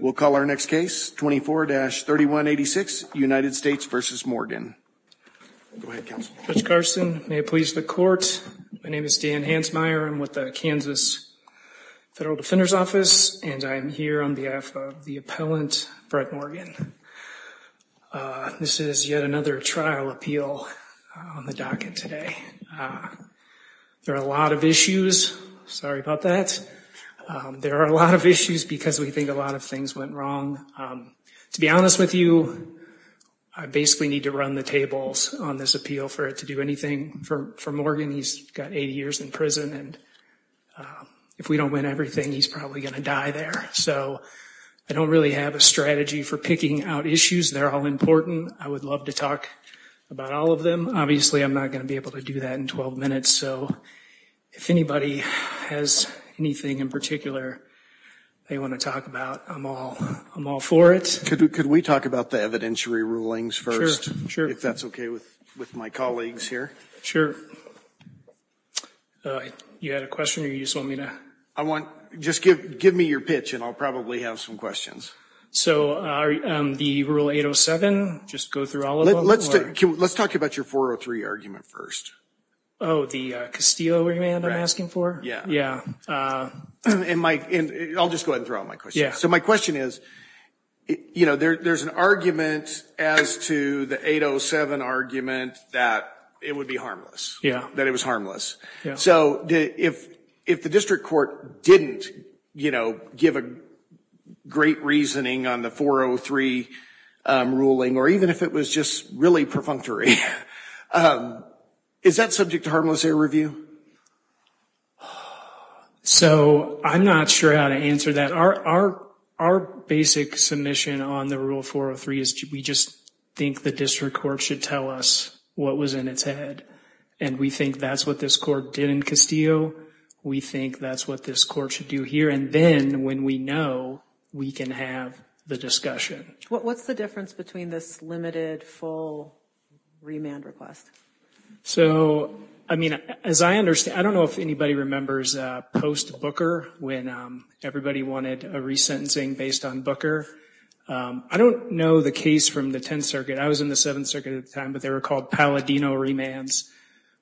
We'll call our next case, 24-3186, United States v. Morgan. Go ahead, counsel. Judge Carson, may it please the court, my name is Dan Hansmeier. I'm with the Kansas Federal Defender's Office, and I'm here on behalf of the appellant, Brett Morgan. This is yet another trial appeal on the docket today. There are a lot of issues, sorry about that. There are a lot of issues because we think a lot of things went wrong. To be honest with you, I basically need to run the tables on this appeal for it to do anything for Morgan. He's got eight years in prison, and if we don't win everything, he's probably going to die there. So I don't really have a strategy for picking out issues. They're all important. I would love to talk about all of them. Obviously, I'm not going to be able to do that in 12 minutes, so if anybody has anything in particular they want to talk about, I'm all for it. Could we talk about the evidentiary rulings first, if that's okay with my colleagues here? Sure. You had a question, or you just want me to? Just give me your pitch, and I'll probably have some questions. So the Rule 807, just go through all of them? Let's talk about your 403 argument first. Oh, the Castillo argument I'm asking for? Yeah. I'll just go ahead and throw out my question. So my question is, you know, there's an argument as to the 807 argument that it would be harmless, that it was harmless. So if the district court didn't, you know, give a great reasoning on the 403 ruling, or even if it was just really perfunctory, is that subject to harmless air review? So I'm not sure how to answer that. Our basic submission on the Rule 403 is we just think the district court should tell us what was in its head, and we think that's what this court did in Castillo. We think that's what this court should do here, and then, when we know, we can have the discussion. What's the difference between this limited, full remand request? So I mean, as I understand, I don't know if anybody remembers post-Booker, when everybody wanted a resentencing based on Booker. I don't know the case from the Tenth Circuit. I was in the Seventh Circuit at the time, but they were called Palladino remands,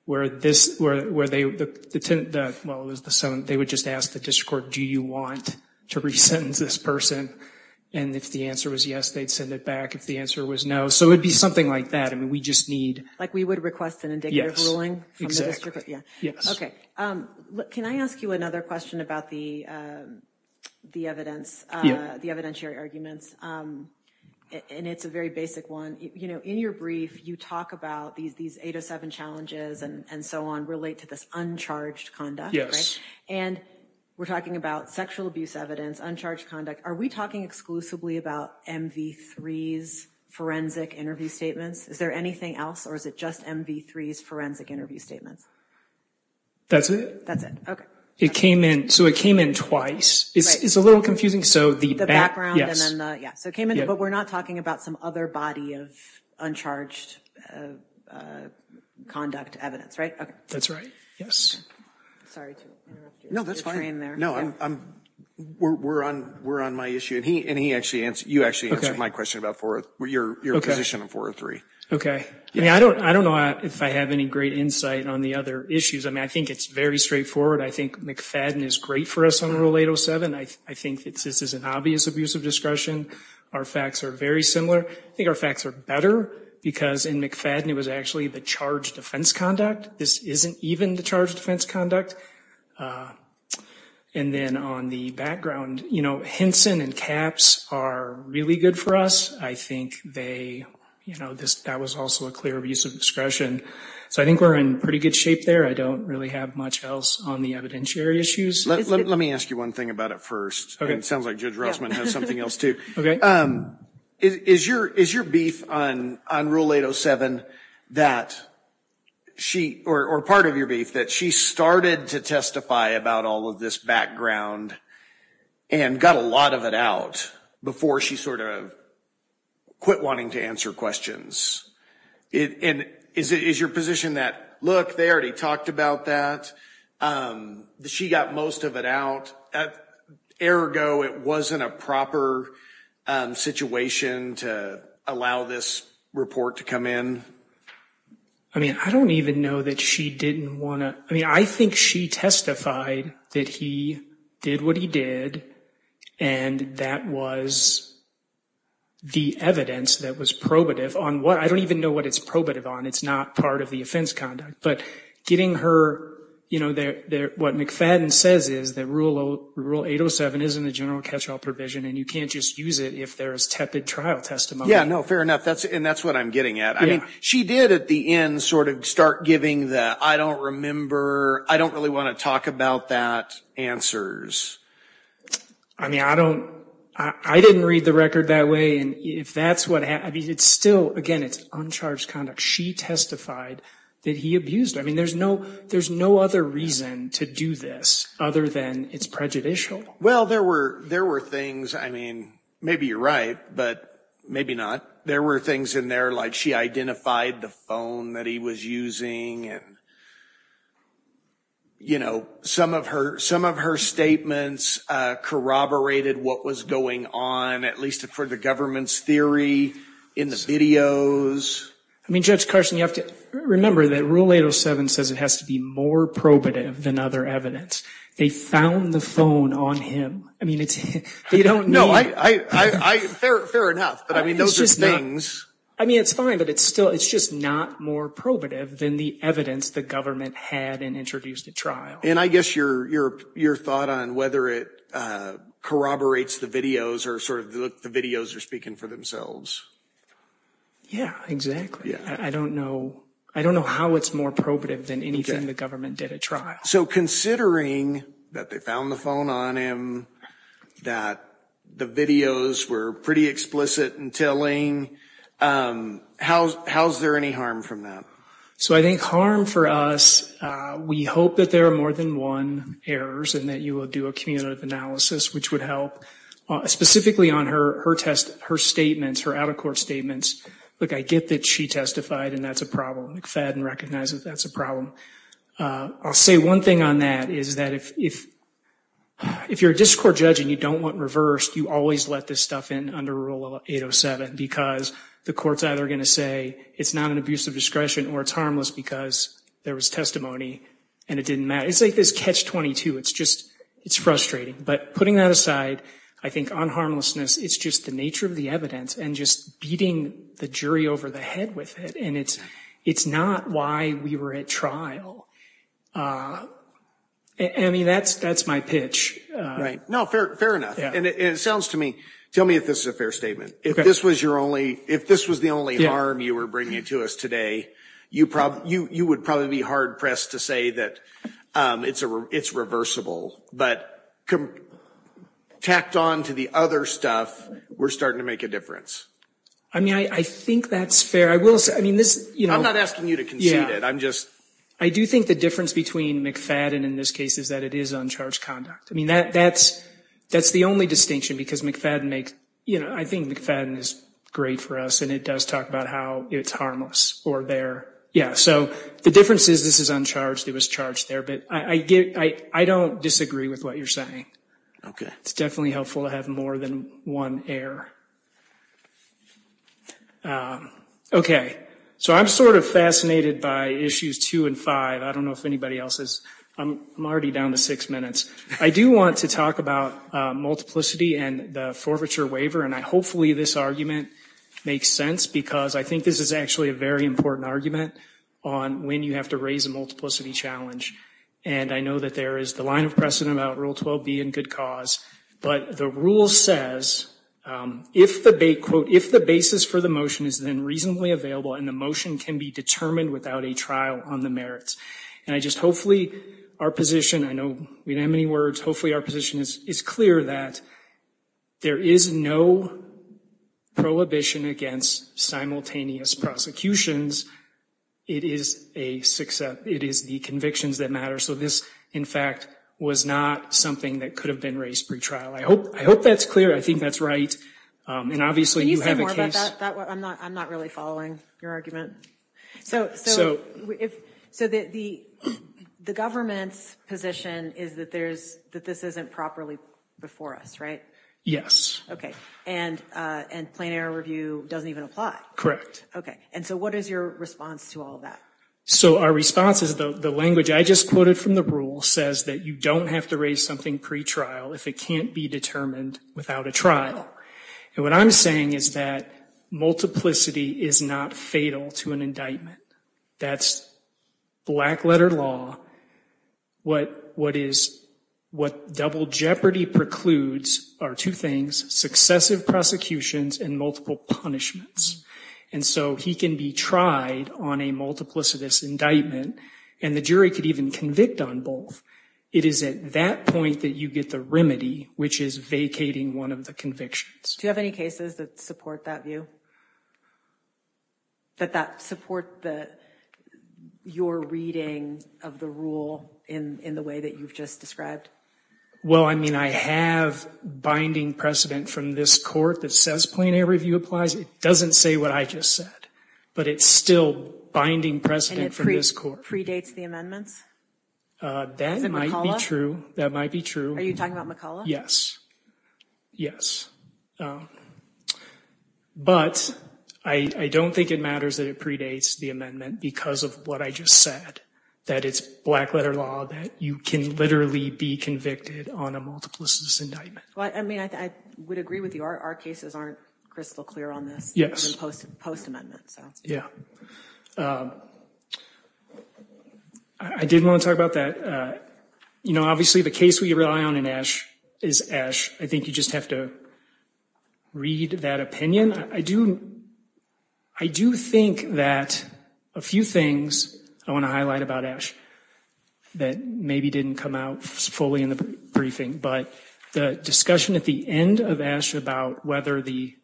where this, where they, well it was the Seventh, they would just ask the district court, do you want to resentence this person? And if the answer was yes, they'd send it back. If the answer was no, so it would be something like that. I mean, we just need. Like, we would request an indicative ruling from the district court? Yes. Okay. Can I ask you another question about the evidence, the evidentiary arguments, and it's a very basic one. You know, in your brief, you talk about these 807 challenges and so on relate to this uncharged conduct, right? And we're talking about sexual abuse evidence, uncharged conduct. Are we talking exclusively about MV3's forensic interview statements? Is there anything else, or is it just MV3's forensic interview statements? That's it? That's it. Okay. It came in, so it came in twice. Right. It's a little confusing, so the back, yes. The background, and then the, yeah, so it came in, but we're not talking about some other body of uncharged conduct evidence, right? Okay. That's right. Yes. Sorry to interrupt your train there. No, that's fine. Yeah. We're on my issue, and you actually answered my question about your position on 403. Okay. I mean, I don't know if I have any great insight on the other issues. I mean, I think it's very straightforward. I think McFadden is great for us on Rule 807. I think this is an obvious abuse of discretion. Our facts are very similar. I think our facts are better because in McFadden, it was actually the charged offense conduct. This isn't even the charged offense conduct. And then on the background, you know, Hinson and Capps are really good for us. I think they, you know, that was also a clear abuse of discretion. So I think we're in pretty good shape there. I don't really have much else on the evidentiary issues. Let me ask you one thing about it first. Okay. It sounds like Judge Rossman has something else too. Okay. Is your beef on Rule 807 that she, or part of your beef, that she started to testify about all of this background and got a lot of it out before she sort of quit wanting to answer questions? And is your position that, look, they already talked about that? She got most of it out. Ergo, it wasn't a proper situation to allow this report to come in? I mean, I don't even know that she didn't want to, I mean, I think she testified that he did what he did and that was the evidence that was probative on what, I don't even know what it's probative on. It's not part of the offense conduct. But getting her, you know, what McFadden says is that Rule 807 is in the general catch-all provision and you can't just use it if there is tepid trial testimony. Yeah, no, fair enough. And that's what I'm getting at. Yeah. I mean, she did at the end sort of start giving the, I don't remember, I don't really want to talk about that answers. I mean, I don't, I didn't read the record that way and if that's what, I mean, it's still, again, it's uncharged conduct. She testified that he abused her. I mean, there's no, there's no other reason to do this other than it's prejudicial. Well, there were, there were things, I mean, maybe you're right, but maybe not. There were things in there like she identified the phone that he was using and, you know, some of her, some of her statements corroborated what was going on, at least for the government's theory in the videos. I mean, Judge Carson, you have to remember that Rule 807 says it has to be more probative than other evidence. They found the phone on him. I mean, it's, they don't need. No, I, I, I, I, fair, fair enough, but I mean, those are things. I mean, it's fine, but it's still, it's just not more probative than the evidence the government had in introducing the trial. And I guess your, your, your thought on whether it corroborates the videos or sort of the videos are speaking for themselves. Yeah, exactly. Yeah. I don't know. I don't know how it's more probative than anything the government did at trial. So considering that they found the phone on him, that the videos were pretty explicit and telling, how's, how's there any harm from that? So I think harm for us, we hope that there are more than one errors and that you will do a community analysis, which would help specifically on her, her test, her statements, her out-of-court statements. Look, I get that she testified and that's a problem. McFadden recognizes that's a problem. I'll say one thing on that is that if, if, if you're a district court judge and you don't want reversed, you always let this stuff in under rule 807 because the court's either going to say it's not an abuse of discretion or it's harmless because there was testimony and it didn't matter. It's like this catch-22. It's just, it's frustrating. But putting that aside, I think on harmlessness, it's just the nature of the evidence and just beating the jury over the head with it. And it's, it's not why we were at trial. I mean, that's, that's my pitch. Right. No, fair, fair enough. And it sounds to me, tell me if this is a fair statement. If this was your only, if this was the only harm you were bringing to us today, you probably, you would probably be hard pressed to say that it's a, it's reversible, but tacked on to the other stuff, we're starting to make a difference. I mean, I think that's fair. I will say, I mean, this, you know, I'm not asking you to concede it. I'm just, I do think the difference between McFadden in this case is that it is uncharged conduct. I mean, that, that's, that's the only distinction because McFadden makes, you know, I think McFadden is great for us and it does talk about how it's harmless or they're, yeah. So the difference is this is uncharged, it was charged there, but I get, I, I don't disagree with what you're saying. Okay. It's definitely helpful to have more than one error. Okay. So I'm sort of fascinated by issues two and five. I don't know if anybody else is. I'm already down to six minutes. I do want to talk about multiplicity and the forfeiture waiver. And I, hopefully this argument makes sense because I think this is actually a very important argument on when you have to raise a multiplicity challenge. And I know that there is the line of precedent about Rule 12B and good cause. But the rule says if the, quote, if the basis for the motion is then reasonably available and the motion can be determined without a trial on the merits. And I just, hopefully our position, I know we don't have many words, hopefully our position is, is clear that there is no prohibition against simultaneous prosecutions. It is a success, it is the convictions that matter. So this, in fact, was not something that could have been raised pretrial. I hope, I hope that's clear. I think that's right. And obviously you have a case. Can you say more about that? I'm not, I'm not really following your argument. So, so, if, so the, the government's position is that there's, that this isn't properly before us, right? Yes. Okay. And, and plain error review doesn't even apply. Correct. Okay. And so what is your response to all of that? So our response is the language I just quoted from the rule says that you don't have to raise something pretrial if it can't be determined without a trial. And what I'm saying is that multiplicity is not fatal to an indictment. That's black letter law. What, what is, what double jeopardy precludes are two things, successive prosecutions and multiple punishments. And so he can be tried on a multiplicitous indictment and the jury could even convict on both. It is at that point that you get the remedy, which is vacating one of the convictions. Do you have any cases that support that view? That that support the, your reading of the rule in, in the way that you've just described? Well, I mean, I have binding precedent from this court that says plain error review applies. It doesn't say what I just said, but it's still binding precedent from this court. And it predates the amendments? Uh, that might be true. That might be true. Are you talking about McCullough? Yes. Yes. Um, but I don't think it matters that it predates the amendment because of what I just said, that it's black letter law, that you can literally be convicted on a multiplicitous indictment. Well, I mean, I would agree with you. Our cases aren't crystal clear on this. Yes. Post, post amendment. Yeah. Um, I, I did want to talk about that, uh, you know, obviously the case we rely on in Ash is Ash. I think you just have to read that opinion. I do, I do think that a few things I want to highlight about Ash that maybe didn't come out fully in the briefing, but the discussion at the end of Ash about whether the,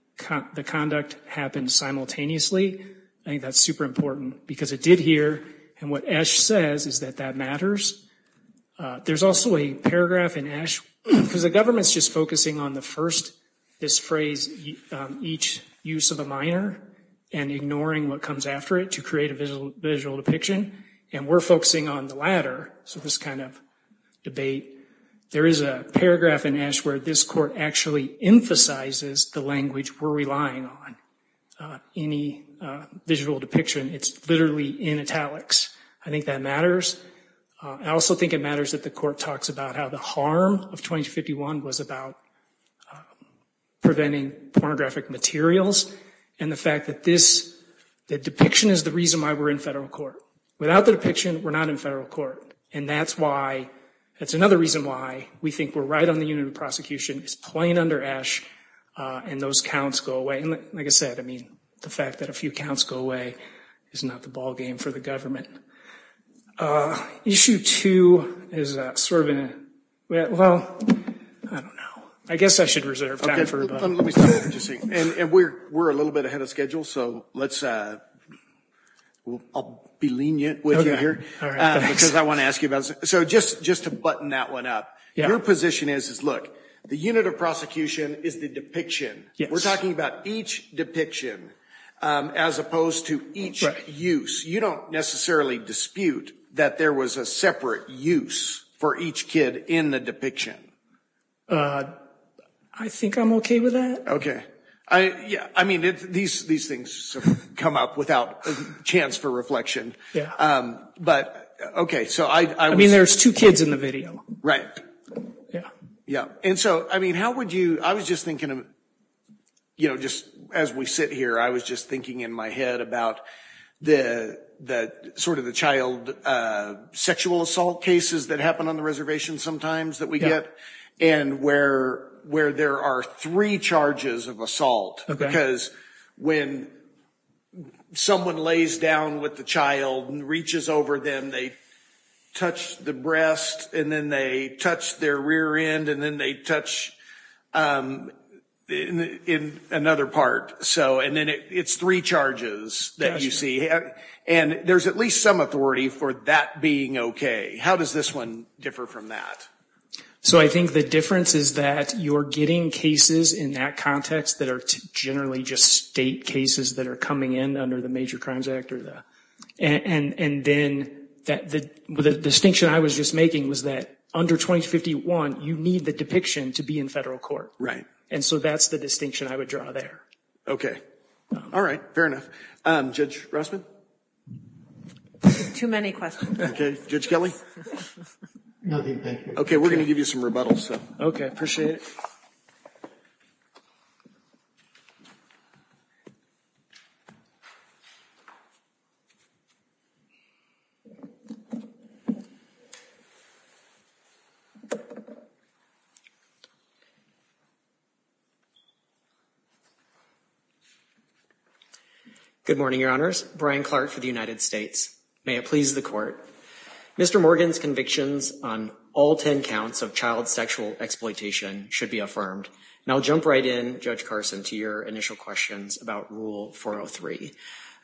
the conduct happened simultaneously, I think that's super important because it did here. And what Ash says is that that matters. Uh, there's also a paragraph in Ash because the government's just focusing on the first, this phrase, um, each use of a minor and ignoring what comes after it to create a visual, visual depiction. And we're focusing on the latter. So this kind of debate, there is a paragraph in Ash where this court actually emphasizes the language we're relying on, uh, any, uh, visual depiction. It's literally in italics. I think that matters. Uh, I also think it matters that the court talks about how the harm of 2051 was about, uh, preventing pornographic materials. And the fact that this, the depiction is the reason why we're in federal court. Without the depiction, we're not in federal court. And that's why, that's another reason why we think we're right on the unit of prosecution is plain under Ash, uh, and those counts go away. And like I said, I mean, the fact that a few counts go away is not the ballgame for the government. Uh, issue two is a sort of a, well, I don't know. I guess I should reserve time for, but let me just say, and we're, we're a little bit ahead of schedule. So let's, uh, I'll be lenient with you here because I want to ask you about, so just, just to button that one up, your position is, is look, the unit of prosecution is the We're talking about each depiction, um, as opposed to each use. You don't necessarily dispute that there was a separate use for each kid in the depiction. Uh, I think I'm okay with that. Okay. I, yeah, I mean, these, these things come up without a chance for reflection. Um, but okay. So I, I mean, there's two kids in the video, right? Yeah. Yeah. And so, I mean, how would you, I was just thinking of, you know, just as we sit here, I was just thinking in my head about the, that sort of the child, uh, sexual assault cases that happen on the reservation sometimes that we get and where, where there are three charges of assault because when someone lays down with the child and reaches over them, they touch the breast and then they touch their rear end and then they touch, um, in another part. So, and then it's three charges that you see. And there's at least some authority for that being okay. How does this one differ from that? So I think the difference is that you're getting cases in that context that are generally just state cases that are coming in under the Major Crimes Act or the, and, and then that the, the distinction I was just making was that under 2051, you need the depiction to be in federal court. Right. And so that's the distinction I would draw there. Okay. All right. Fair enough. Um, Judge Rossman? Too many questions. Okay. Judge Kelly? Nothing. Thank you. Okay. We're going to give you some rebuttals, so. Okay. Appreciate it. Next we have Brian Clark. Good morning, your honors. Brian Clark for the United States. May it please the court. Mr. Morgan's convictions on all 10 counts of child sexual exploitation should be affirmed. Now I'll jump right in, Judge Carson, to your initial questions about Rule 403.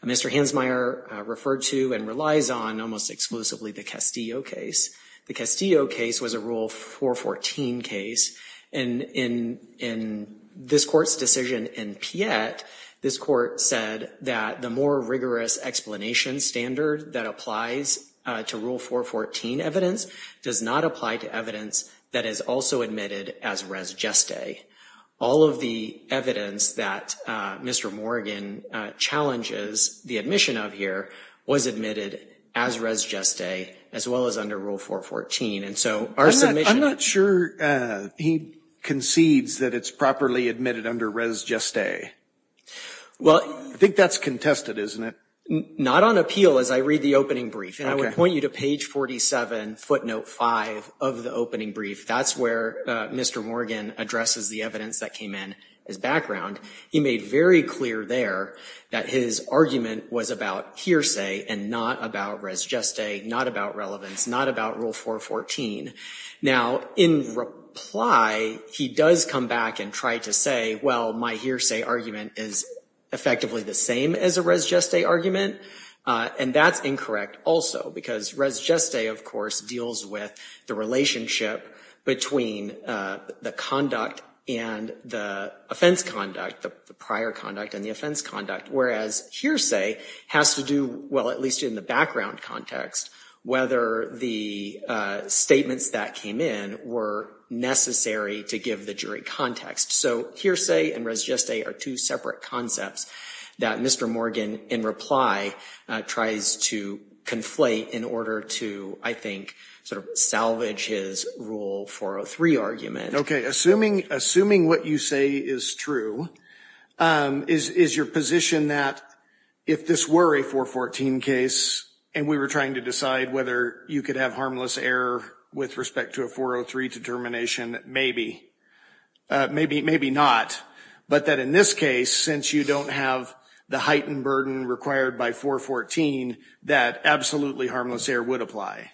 Mr. Hansmeier referred to and relies on, almost exclusively, the Castillo case. The Castillo case was a Rule 414 case. And in this court's decision in Piette, this court said that the more rigorous explanation standard that applies to Rule 414 evidence does not apply to evidence that is also admitted as res geste. All of the evidence that Mr. Morgan challenges the admission of here was admitted as res geste, as well as under Rule 414. And so our submission- I'm not sure he concedes that it's properly admitted under res geste. Well- I think that's contested, isn't it? Not on appeal as I read the opening brief. And I would point you to page 47, footnote five, of the opening brief. That's where Mr. Morgan addresses the evidence that came in, his background. He made very clear there that his argument was about hearsay and not about res geste, not about relevance, not about Rule 414. Now, in reply, he does come back and try to say, well, my hearsay argument is effectively the same as a res geste argument, and that's incorrect also because res geste, of course, deals with the relationship between the conduct and the offense conduct, the prior conduct and the offense conduct, whereas hearsay has to do, well, at least in the background context, whether the statements that came in were necessary to give the jury context. So hearsay and res geste are two separate concepts that Mr. Morgan, in reply, tries to conflate in order to, I think, sort of salvage his Rule 403 argument. Okay, assuming what you say is true, is your position that if this were a 414 case and we were trying to decide whether you could have harmless error with respect to a 403 determination, maybe, maybe not, but that in this case, since you don't have the heightened burden required by 414, that absolutely harmless error would apply?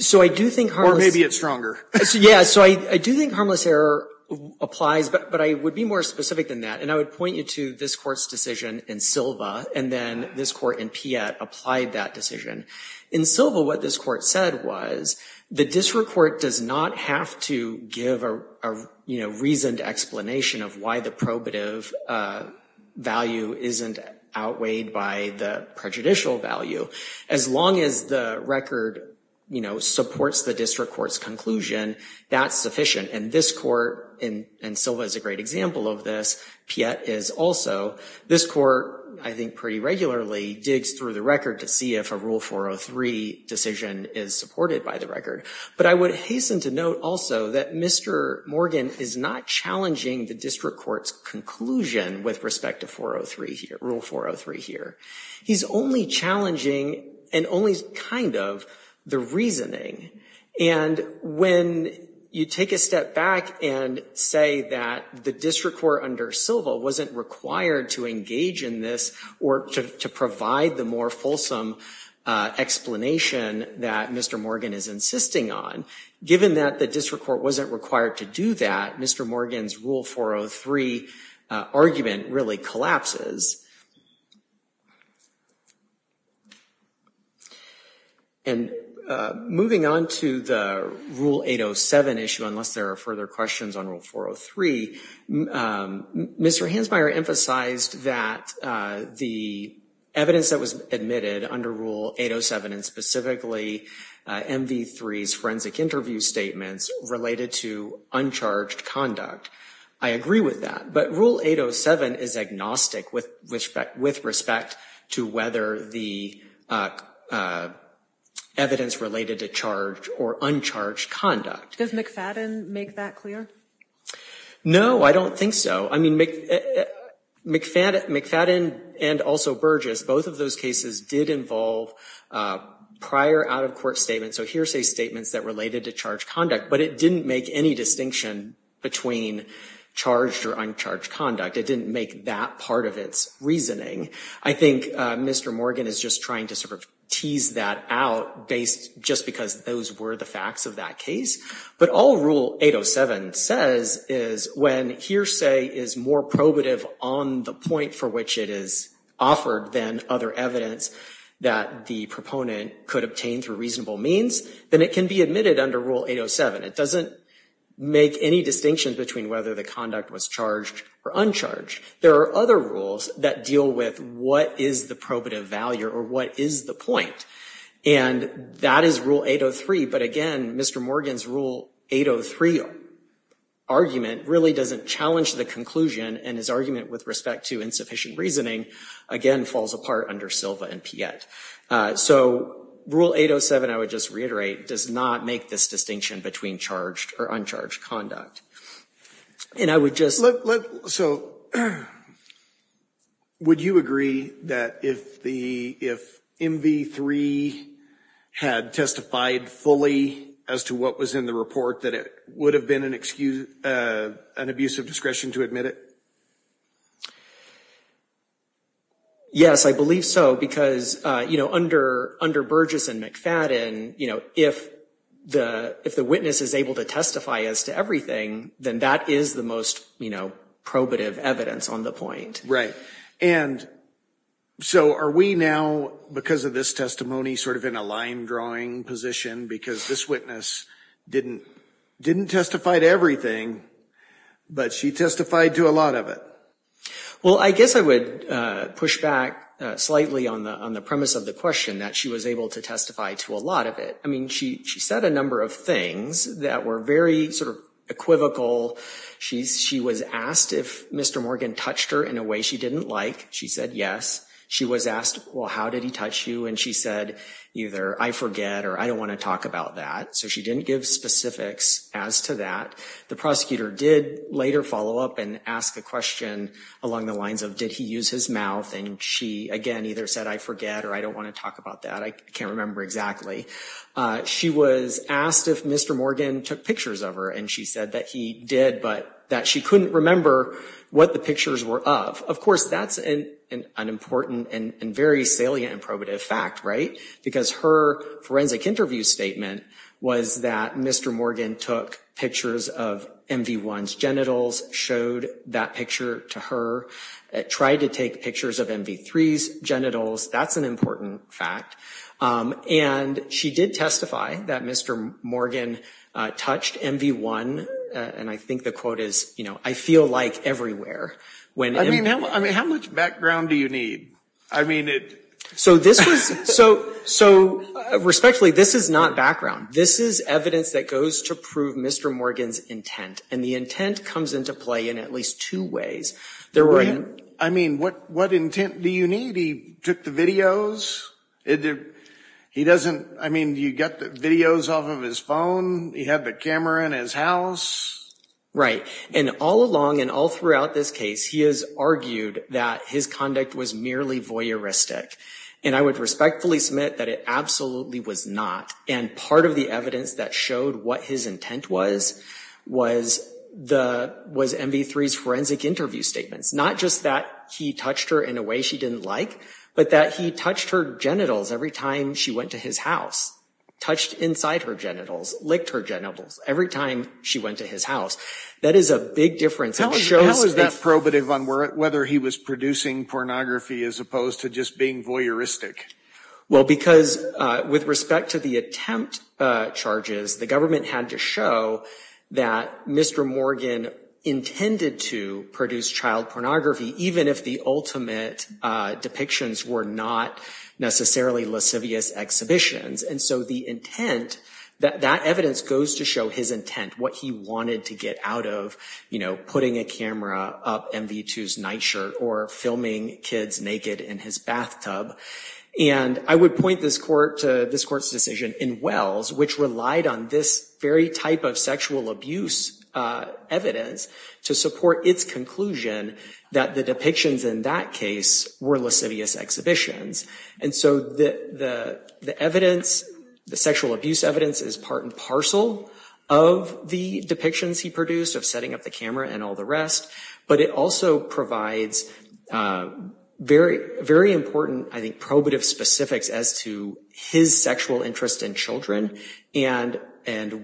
So I do think harmless- Or maybe it's stronger. Yeah, so I do think harmless error applies, but I would be more specific than that, and I would point you to this court's decision in Silva, and then this court in Piette applied that decision. In Silva, what this court said was the district court does not have to give a reasoned explanation of why the probative value isn't outweighed by the prejudicial value. As long as the record supports the district court's conclusion, that's sufficient. And this court, and Silva is a great example of this, Piette is also, this court, I think, pretty regularly digs through the record to see if a Rule 403 decision is supported by the record. But I would hasten to note also that Mr. Morgan is not challenging the district court's conclusion with respect to Rule 403 here. He's only challenging, and only kind of, the reasoning. And when you take a step back and say that the district court under Silva wasn't required to engage in this, or to provide the more fulsome explanation that Mr. Morgan is insisting on, given that the district court wasn't required to do that, Mr. Morgan's Rule 403 argument really collapses. And moving on to the Rule 807 issue, unless there are further questions on Rule 403, Mr. Hansmeier emphasized that the evidence that was admitted under Rule 807, and specifically MV3's forensic interview statements, related to uncharged conduct. I agree with that, but Rule 807 is agnostic with respect to whether the evidence related to charged or uncharged conduct. Does McFadden make that clear? No, I don't think so. I mean, McFadden and also Burgess, both of those cases did involve prior out-of-court statements, so hearsay statements that related to charged conduct, but it didn't make any distinction between charged or uncharged conduct. It didn't make that part of its reasoning. I think Mr. Morgan is just trying to sort of tease that out just because those were the facts of that case. But all Rule 807 says is when hearsay is more probative on the point for which it is offered than other evidence that the proponent could obtain through reasonable means, then it can be admitted under Rule 807. It doesn't make any distinction between whether the conduct was charged or uncharged. There are other rules that deal with what is the probative value or what is the point, and that is Rule 803. But again, Mr. Morgan's Rule 803 argument really doesn't challenge the conclusion, and his argument with respect to insufficient reasoning, again, falls apart under Silva and Piette. So Rule 807, I would just reiterate, does not make this distinction between charged or uncharged conduct. And I would just- So would you agree that if MV3 had testified fully as to what was in the report, that it would have been an abuse of discretion to admit it? Yes, I believe so, because under Burgess and McFadden, if the witness is able to testify as to everything, then that is the most probative evidence on the point. Right, and so are we now, because of this testimony, sort of in a line-drawing position because this witness didn't testify to everything, but she testified to a lot of it? Well, I guess I would push back slightly on the premise of the question, that she was able to testify to a lot of it. I mean, she said a number of things that were very sort of equivocal. She was asked if Mr. Morgan touched her in a way she didn't like. She said yes. She was asked, well, how did he touch you? And she said, either I forget or I don't want to talk about that. So she didn't give specifics as to that. The prosecutor did later follow up and ask a question along the lines of, did he use his mouth? And she, again, either said I forget or I don't want to talk about that. I can't remember exactly. She was asked if Mr. Morgan took pictures of her, and she said that he did, but that she couldn't remember what the pictures were of. Of course, that's an important and very salient and probative fact, right? Because her forensic interview statement was that Mr. Morgan took pictures of MV1's genitals, showed that picture to her, tried to take pictures of MV3's genitals. That's an important fact. And she did testify that Mr. Morgan touched MV1, and I think the quote is, you know, I feel like everywhere when MV1- I mean, how much background do you need? I mean, it- So this was, so respectfully, this is not background. This is evidence that goes to prove Mr. Morgan's intent, and the intent comes into play in at least two ways. There were- I mean, what intent do you need? He took the videos. He doesn't, I mean, you got the videos off of his phone. He had the camera in his house. Right, and all along and all throughout this case, he has argued that his conduct was merely voyeuristic, and I would respectfully submit that it absolutely was not, and part of the evidence that showed what his intent was was MV3's forensic interview statements, not just that he touched her in a way she didn't like, but that he touched her genitals every time she went to his house, touched inside her genitals, licked her genitals every time she went to his house. That is a big difference. How is that probative on whether he was producing pornography as opposed to just being voyeuristic? Well, because with respect to the attempt charges, the government had to show that Mr. Morgan intended to produce child pornography, even if the ultimate depictions were not necessarily lascivious exhibitions, and so the intent, that evidence goes to show his intent, what he wanted to get out of, you know, putting a camera up MV2's nightshirt or filming kids naked in his bathtub, and I would point this court's decision in Wells, which relied on this very type of sexual abuse evidence to support its conclusion that the depictions in that case were lascivious exhibitions, and so the evidence, the sexual abuse evidence is part and parcel of the depictions he produced of setting up the camera and all the rest, but it also provides very important, I think, probative specifics as to his sexual interest in children and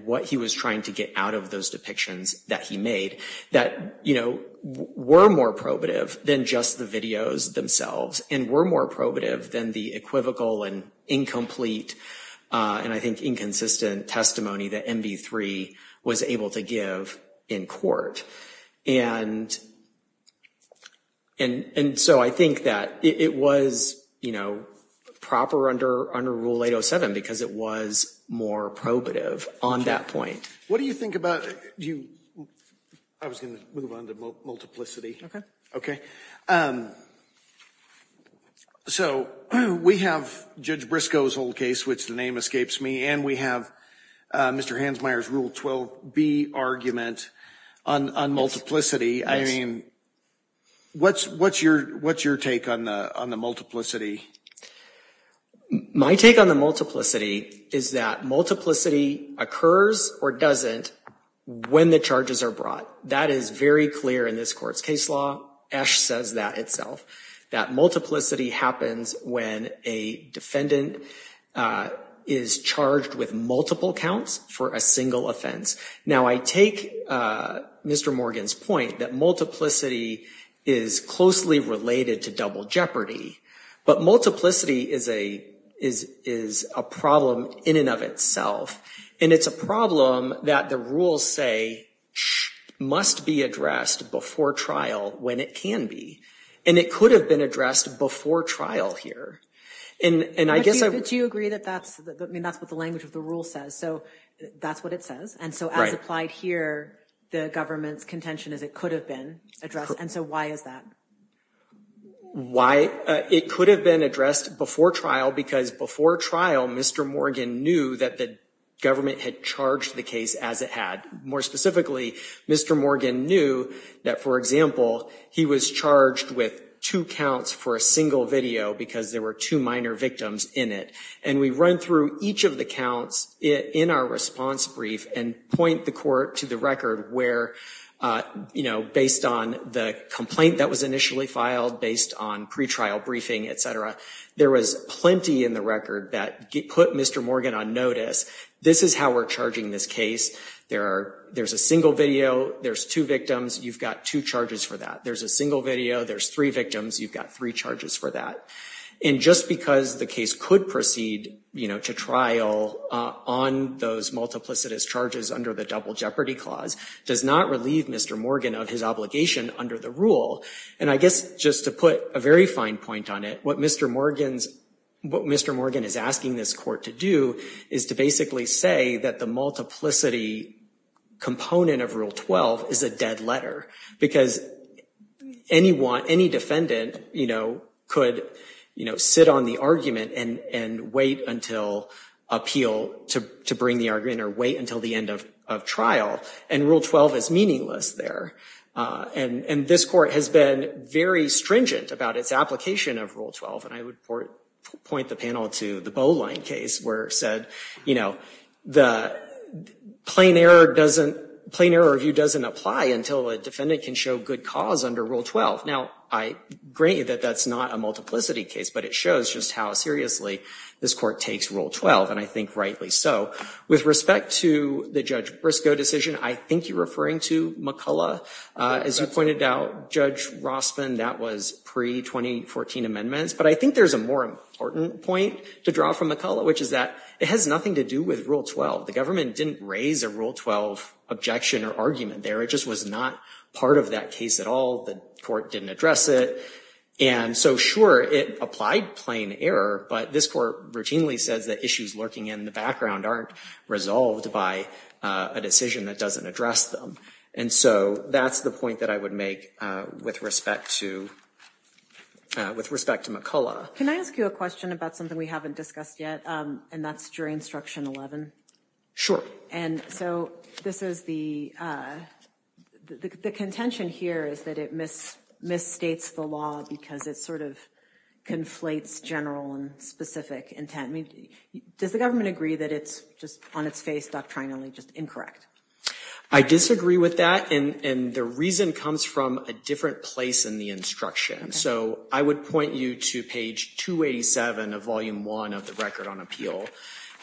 what he was trying to get out of those depictions that he made that, you know, were more probative than just the videos themselves and were more probative than the equivocal and incomplete and I think inconsistent testimony that MV3 was able to give in court, and so I think that it was, you know, proper under Rule 807 because it was more probative on that point. What do you think about, do you, I was gonna move on to multiplicity. Okay. Okay. So we have Judge Briscoe's whole case, which the name escapes me, and we have Mr. Hansmeier's Rule 12b argument on multiplicity. I mean, what's your take on the multiplicity? My take on the multiplicity is that multiplicity occurs or doesn't when the charges are brought. That is very clear in this court's case law. Esch says that itself, that multiplicity happens when a defendant is charged with multiple counts for a single offense. Now, I take Mr. Morgan's point that multiplicity is closely related to double jeopardy, but multiplicity is a problem in and of itself, and it's a problem that the rules say must be addressed before trial when it can be, and it could have been addressed before trial here, and I guess I- Do you agree that that's, I mean, that's what the language of the rule says, so that's what it says, and so as applied here, the government's contention is it could have been addressed, and so why is that? Why it could have been addressed before trial because before trial, Mr. Morgan knew that the government had charged the case as it had. More specifically, Mr. Morgan knew that, for example, he was charged with two counts for a single video because there were two minor victims in it, and we run through each of the counts. In our response brief, and point the court to the record where, you know, based on the complaint that was initially filed, based on pretrial briefing, et cetera, there was plenty in the record that put Mr. Morgan on notice. This is how we're charging this case. There's a single video, there's two victims, you've got two charges for that. There's a single video, there's three victims, you've got three charges for that, and just because the case could proceed, you know, to trial on those multiplicitous charges under the Double Jeopardy Clause does not relieve Mr. Morgan of his obligation under the rule and I guess just to put a very fine point on it, what Mr. Morgan is asking this court to do is to basically say that the multiplicity component of Rule 12 is a dead letter because any defendant, you know, could, you know, sit on the argument and wait until appeal to bring the argument or wait until the end of trial and Rule 12 is meaningless there and this court has been very stringent about its application of Rule 12 and I would point the panel to the Boline case where it said, you know, plain error review doesn't apply until a defendant can show good cause under Rule 12. Now, I agree that that's not a multiplicity case but it shows just how seriously this court takes Rule 12 and I think rightly so. With respect to the Judge Briscoe decision, I think you're referring to McCullough. As you pointed out, Judge Rossman, that was pre-2014 amendments but I think there's a more important point to draw from McCullough, which is that it has nothing to do with Rule 12. The government didn't raise a Rule 12 objection or argument there. It just was not part of that case at all. The court didn't address it and so sure, it applied plain error but this court routinely says that issues lurking in the background aren't resolved by a decision that doesn't address them and so that's the point that I would make with respect to McCullough. Can I ask you a question about something we haven't discussed yet and that's during Instruction 11? Sure. And so this is the, the contention here is that it misstates the law because it sort of conflates general and specific intent. Does the government agree that it's just on its face doctrinally just incorrect? I disagree with that and the reason comes from a different place in the instruction. So I would point you to page 287 of Volume 1 of the Record on Appeal.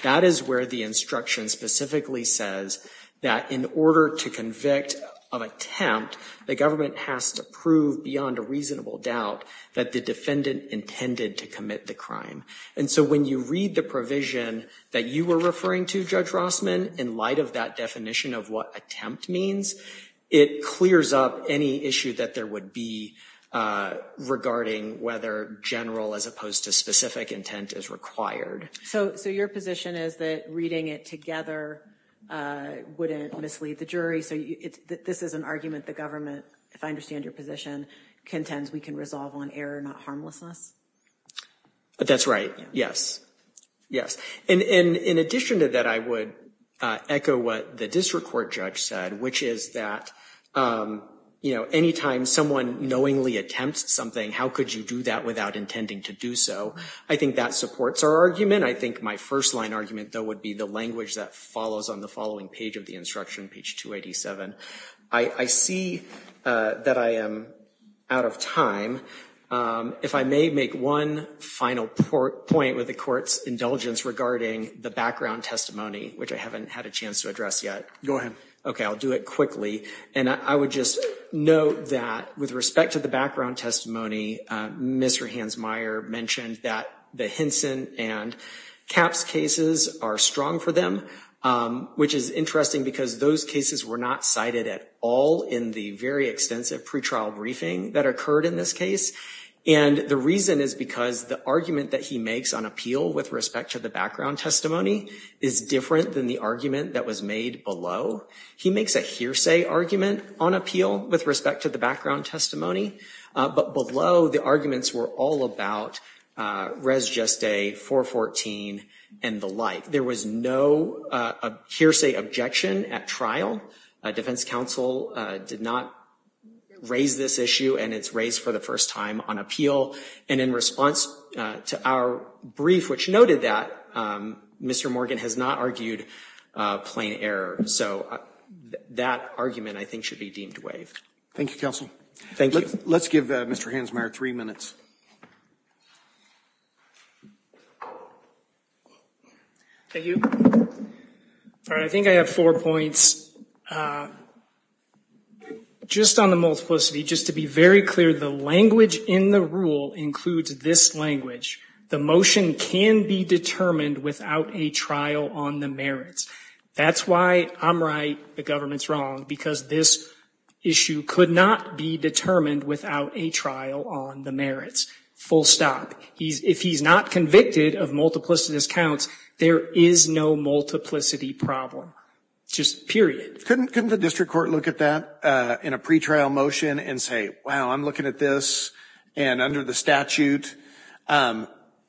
That is where the instruction specifically says that in order to convict of attempt, the government has to prove beyond a reasonable doubt that the defendant intended to commit the crime and so when you read the provision that you were referring to, Judge Rossman, in light of that definition of what attempt means, it clears up any issue that there would be regarding whether general as opposed to specific intent is required. So your position is that reading it together wouldn't mislead the jury so this is an argument the government, if I understand your position, contends we can resolve on error, not harmlessness? That's right, yes. Yes. And in addition to that, I would echo what the district court judge said which is that, you know, anytime someone knowingly attempts something, how could you do that without intending to do so? I think that supports our argument. I think my first line argument though would be the language that follows on the following page of the instruction, page 287. I see that I am out of time. If I may make one final point with the court's indulgence regarding the background testimony which I haven't had a chance to address yet. Go ahead. Okay, I'll do it quickly. And I would just note that with respect to the background testimony, Mr. Hansmeier mentioned that the Hinson and Capps cases are strong for them which is interesting because those cases were not cited at all in the very extensive pretrial briefing that occurred in this case. And the reason is because the argument that he makes on appeal with respect to the background testimony is different than the argument that was made below. He makes a hearsay argument on appeal with respect to the background testimony but below the arguments were all about res geste, 414 and the like. There was no hearsay objection at trial. Defense counsel did not raise this issue and it's raised for the first time on appeal. And in response to our brief which noted that Mr. Morgan has not argued plain error. So that argument I think should be deemed waived. Thank you, counsel. Thank you. Let's give Mr. Hansmeier three minutes. Thank you. All right, I think I have four points. Just on the multiplicity, just to be very clear, the language in the rule includes this language. The motion can be determined without a trial on the merits. That's why I'm right, the government's wrong because this issue could not be determined without a trial on the merits. Full stop. If he's not convicted of multiplicity discounts, there is no multiplicity problem. Just period. Couldn't the district court look at that in a pretrial motion and say, wow, I'm looking at this and under the statute.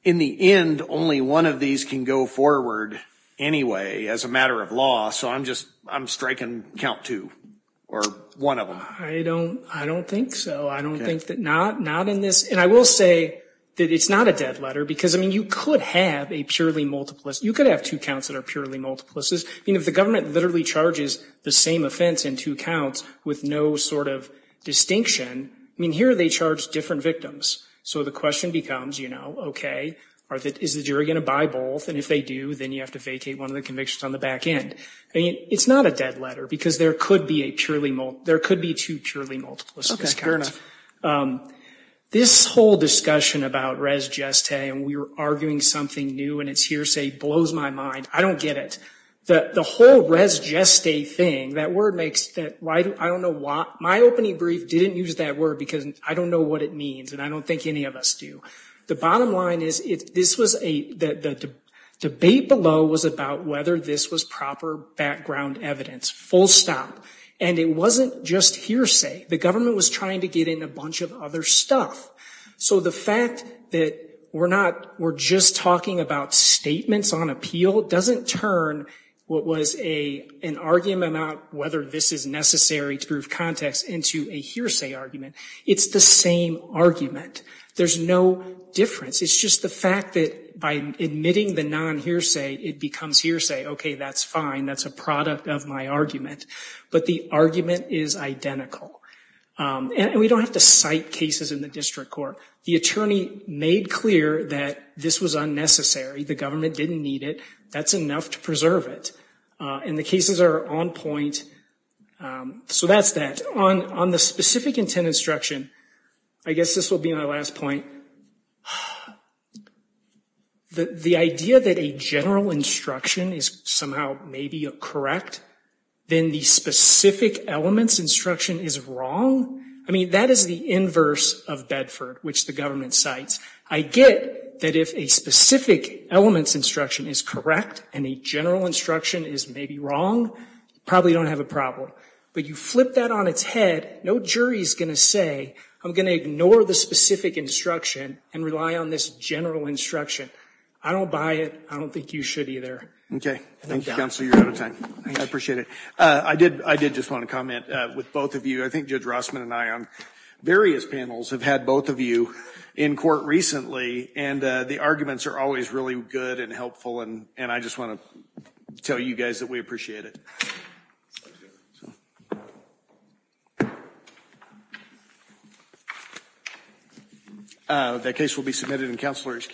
In the end, only one of these can go forward anyway as a matter of law. So I'm just, I'm striking count two or one of them. I don't think so. I don't think that, not in this. And I will say that it's not a dead letter because you could have a purely multiplicity, you could have two counts that are purely multiplicities. If the government literally charges the same offense in two counts with no sort of distinction, here they charge different victims. So the question becomes, okay, is the jury gonna buy both? And if they do, then you have to vacate one of the convictions on the back end. It's not a dead letter because there could be a purely, there could be two purely multiplicity discounts. And this whole discussion about res geste and we were arguing something new and it's hearsay blows my mind. I don't get it. The whole res geste thing, that word makes, I don't know why, my opening brief didn't use that word because I don't know what it means and I don't think any of us do. The bottom line is, this was a, the debate below was about whether this was proper background evidence, full stop. And it wasn't just hearsay. The government was trying to get in a bunch of other stuff. So the fact that we're not, we're just talking about statements on appeal doesn't turn what was an argument about whether this is necessary to prove context into a hearsay argument. It's the same argument. There's no difference. It's just the fact that by admitting the non-hearsay, it becomes hearsay. Okay, that's fine, that's a product of my argument. But the argument is identical. And we don't have to cite cases in the district court. The attorney made clear that this was unnecessary. The government didn't need it. That's enough to preserve it. And the cases are on point, so that's that. On the specific intent instruction, I guess this will be my last point. The idea that a general instruction is somehow maybe correct, then the specific elements instruction is wrong. I mean, that is the inverse of Bedford, which the government cites. I get that if a specific elements instruction is correct and a general instruction is maybe wrong, you probably don't have a problem. But you flip that on its head, no jury's gonna say, I'm gonna ignore the specific instruction and rely on this general instruction. I don't buy it. I don't think you should either. Okay. Thank you, Counselor. You're out of time. I appreciate it. I did just want to comment with both of you. I think Judge Rossman and I on various panels have had both of you in court recently. And the arguments are always really good and helpful. And I just want to tell you guys that we appreciate it. That case will be submitted and Counselor, excuse me.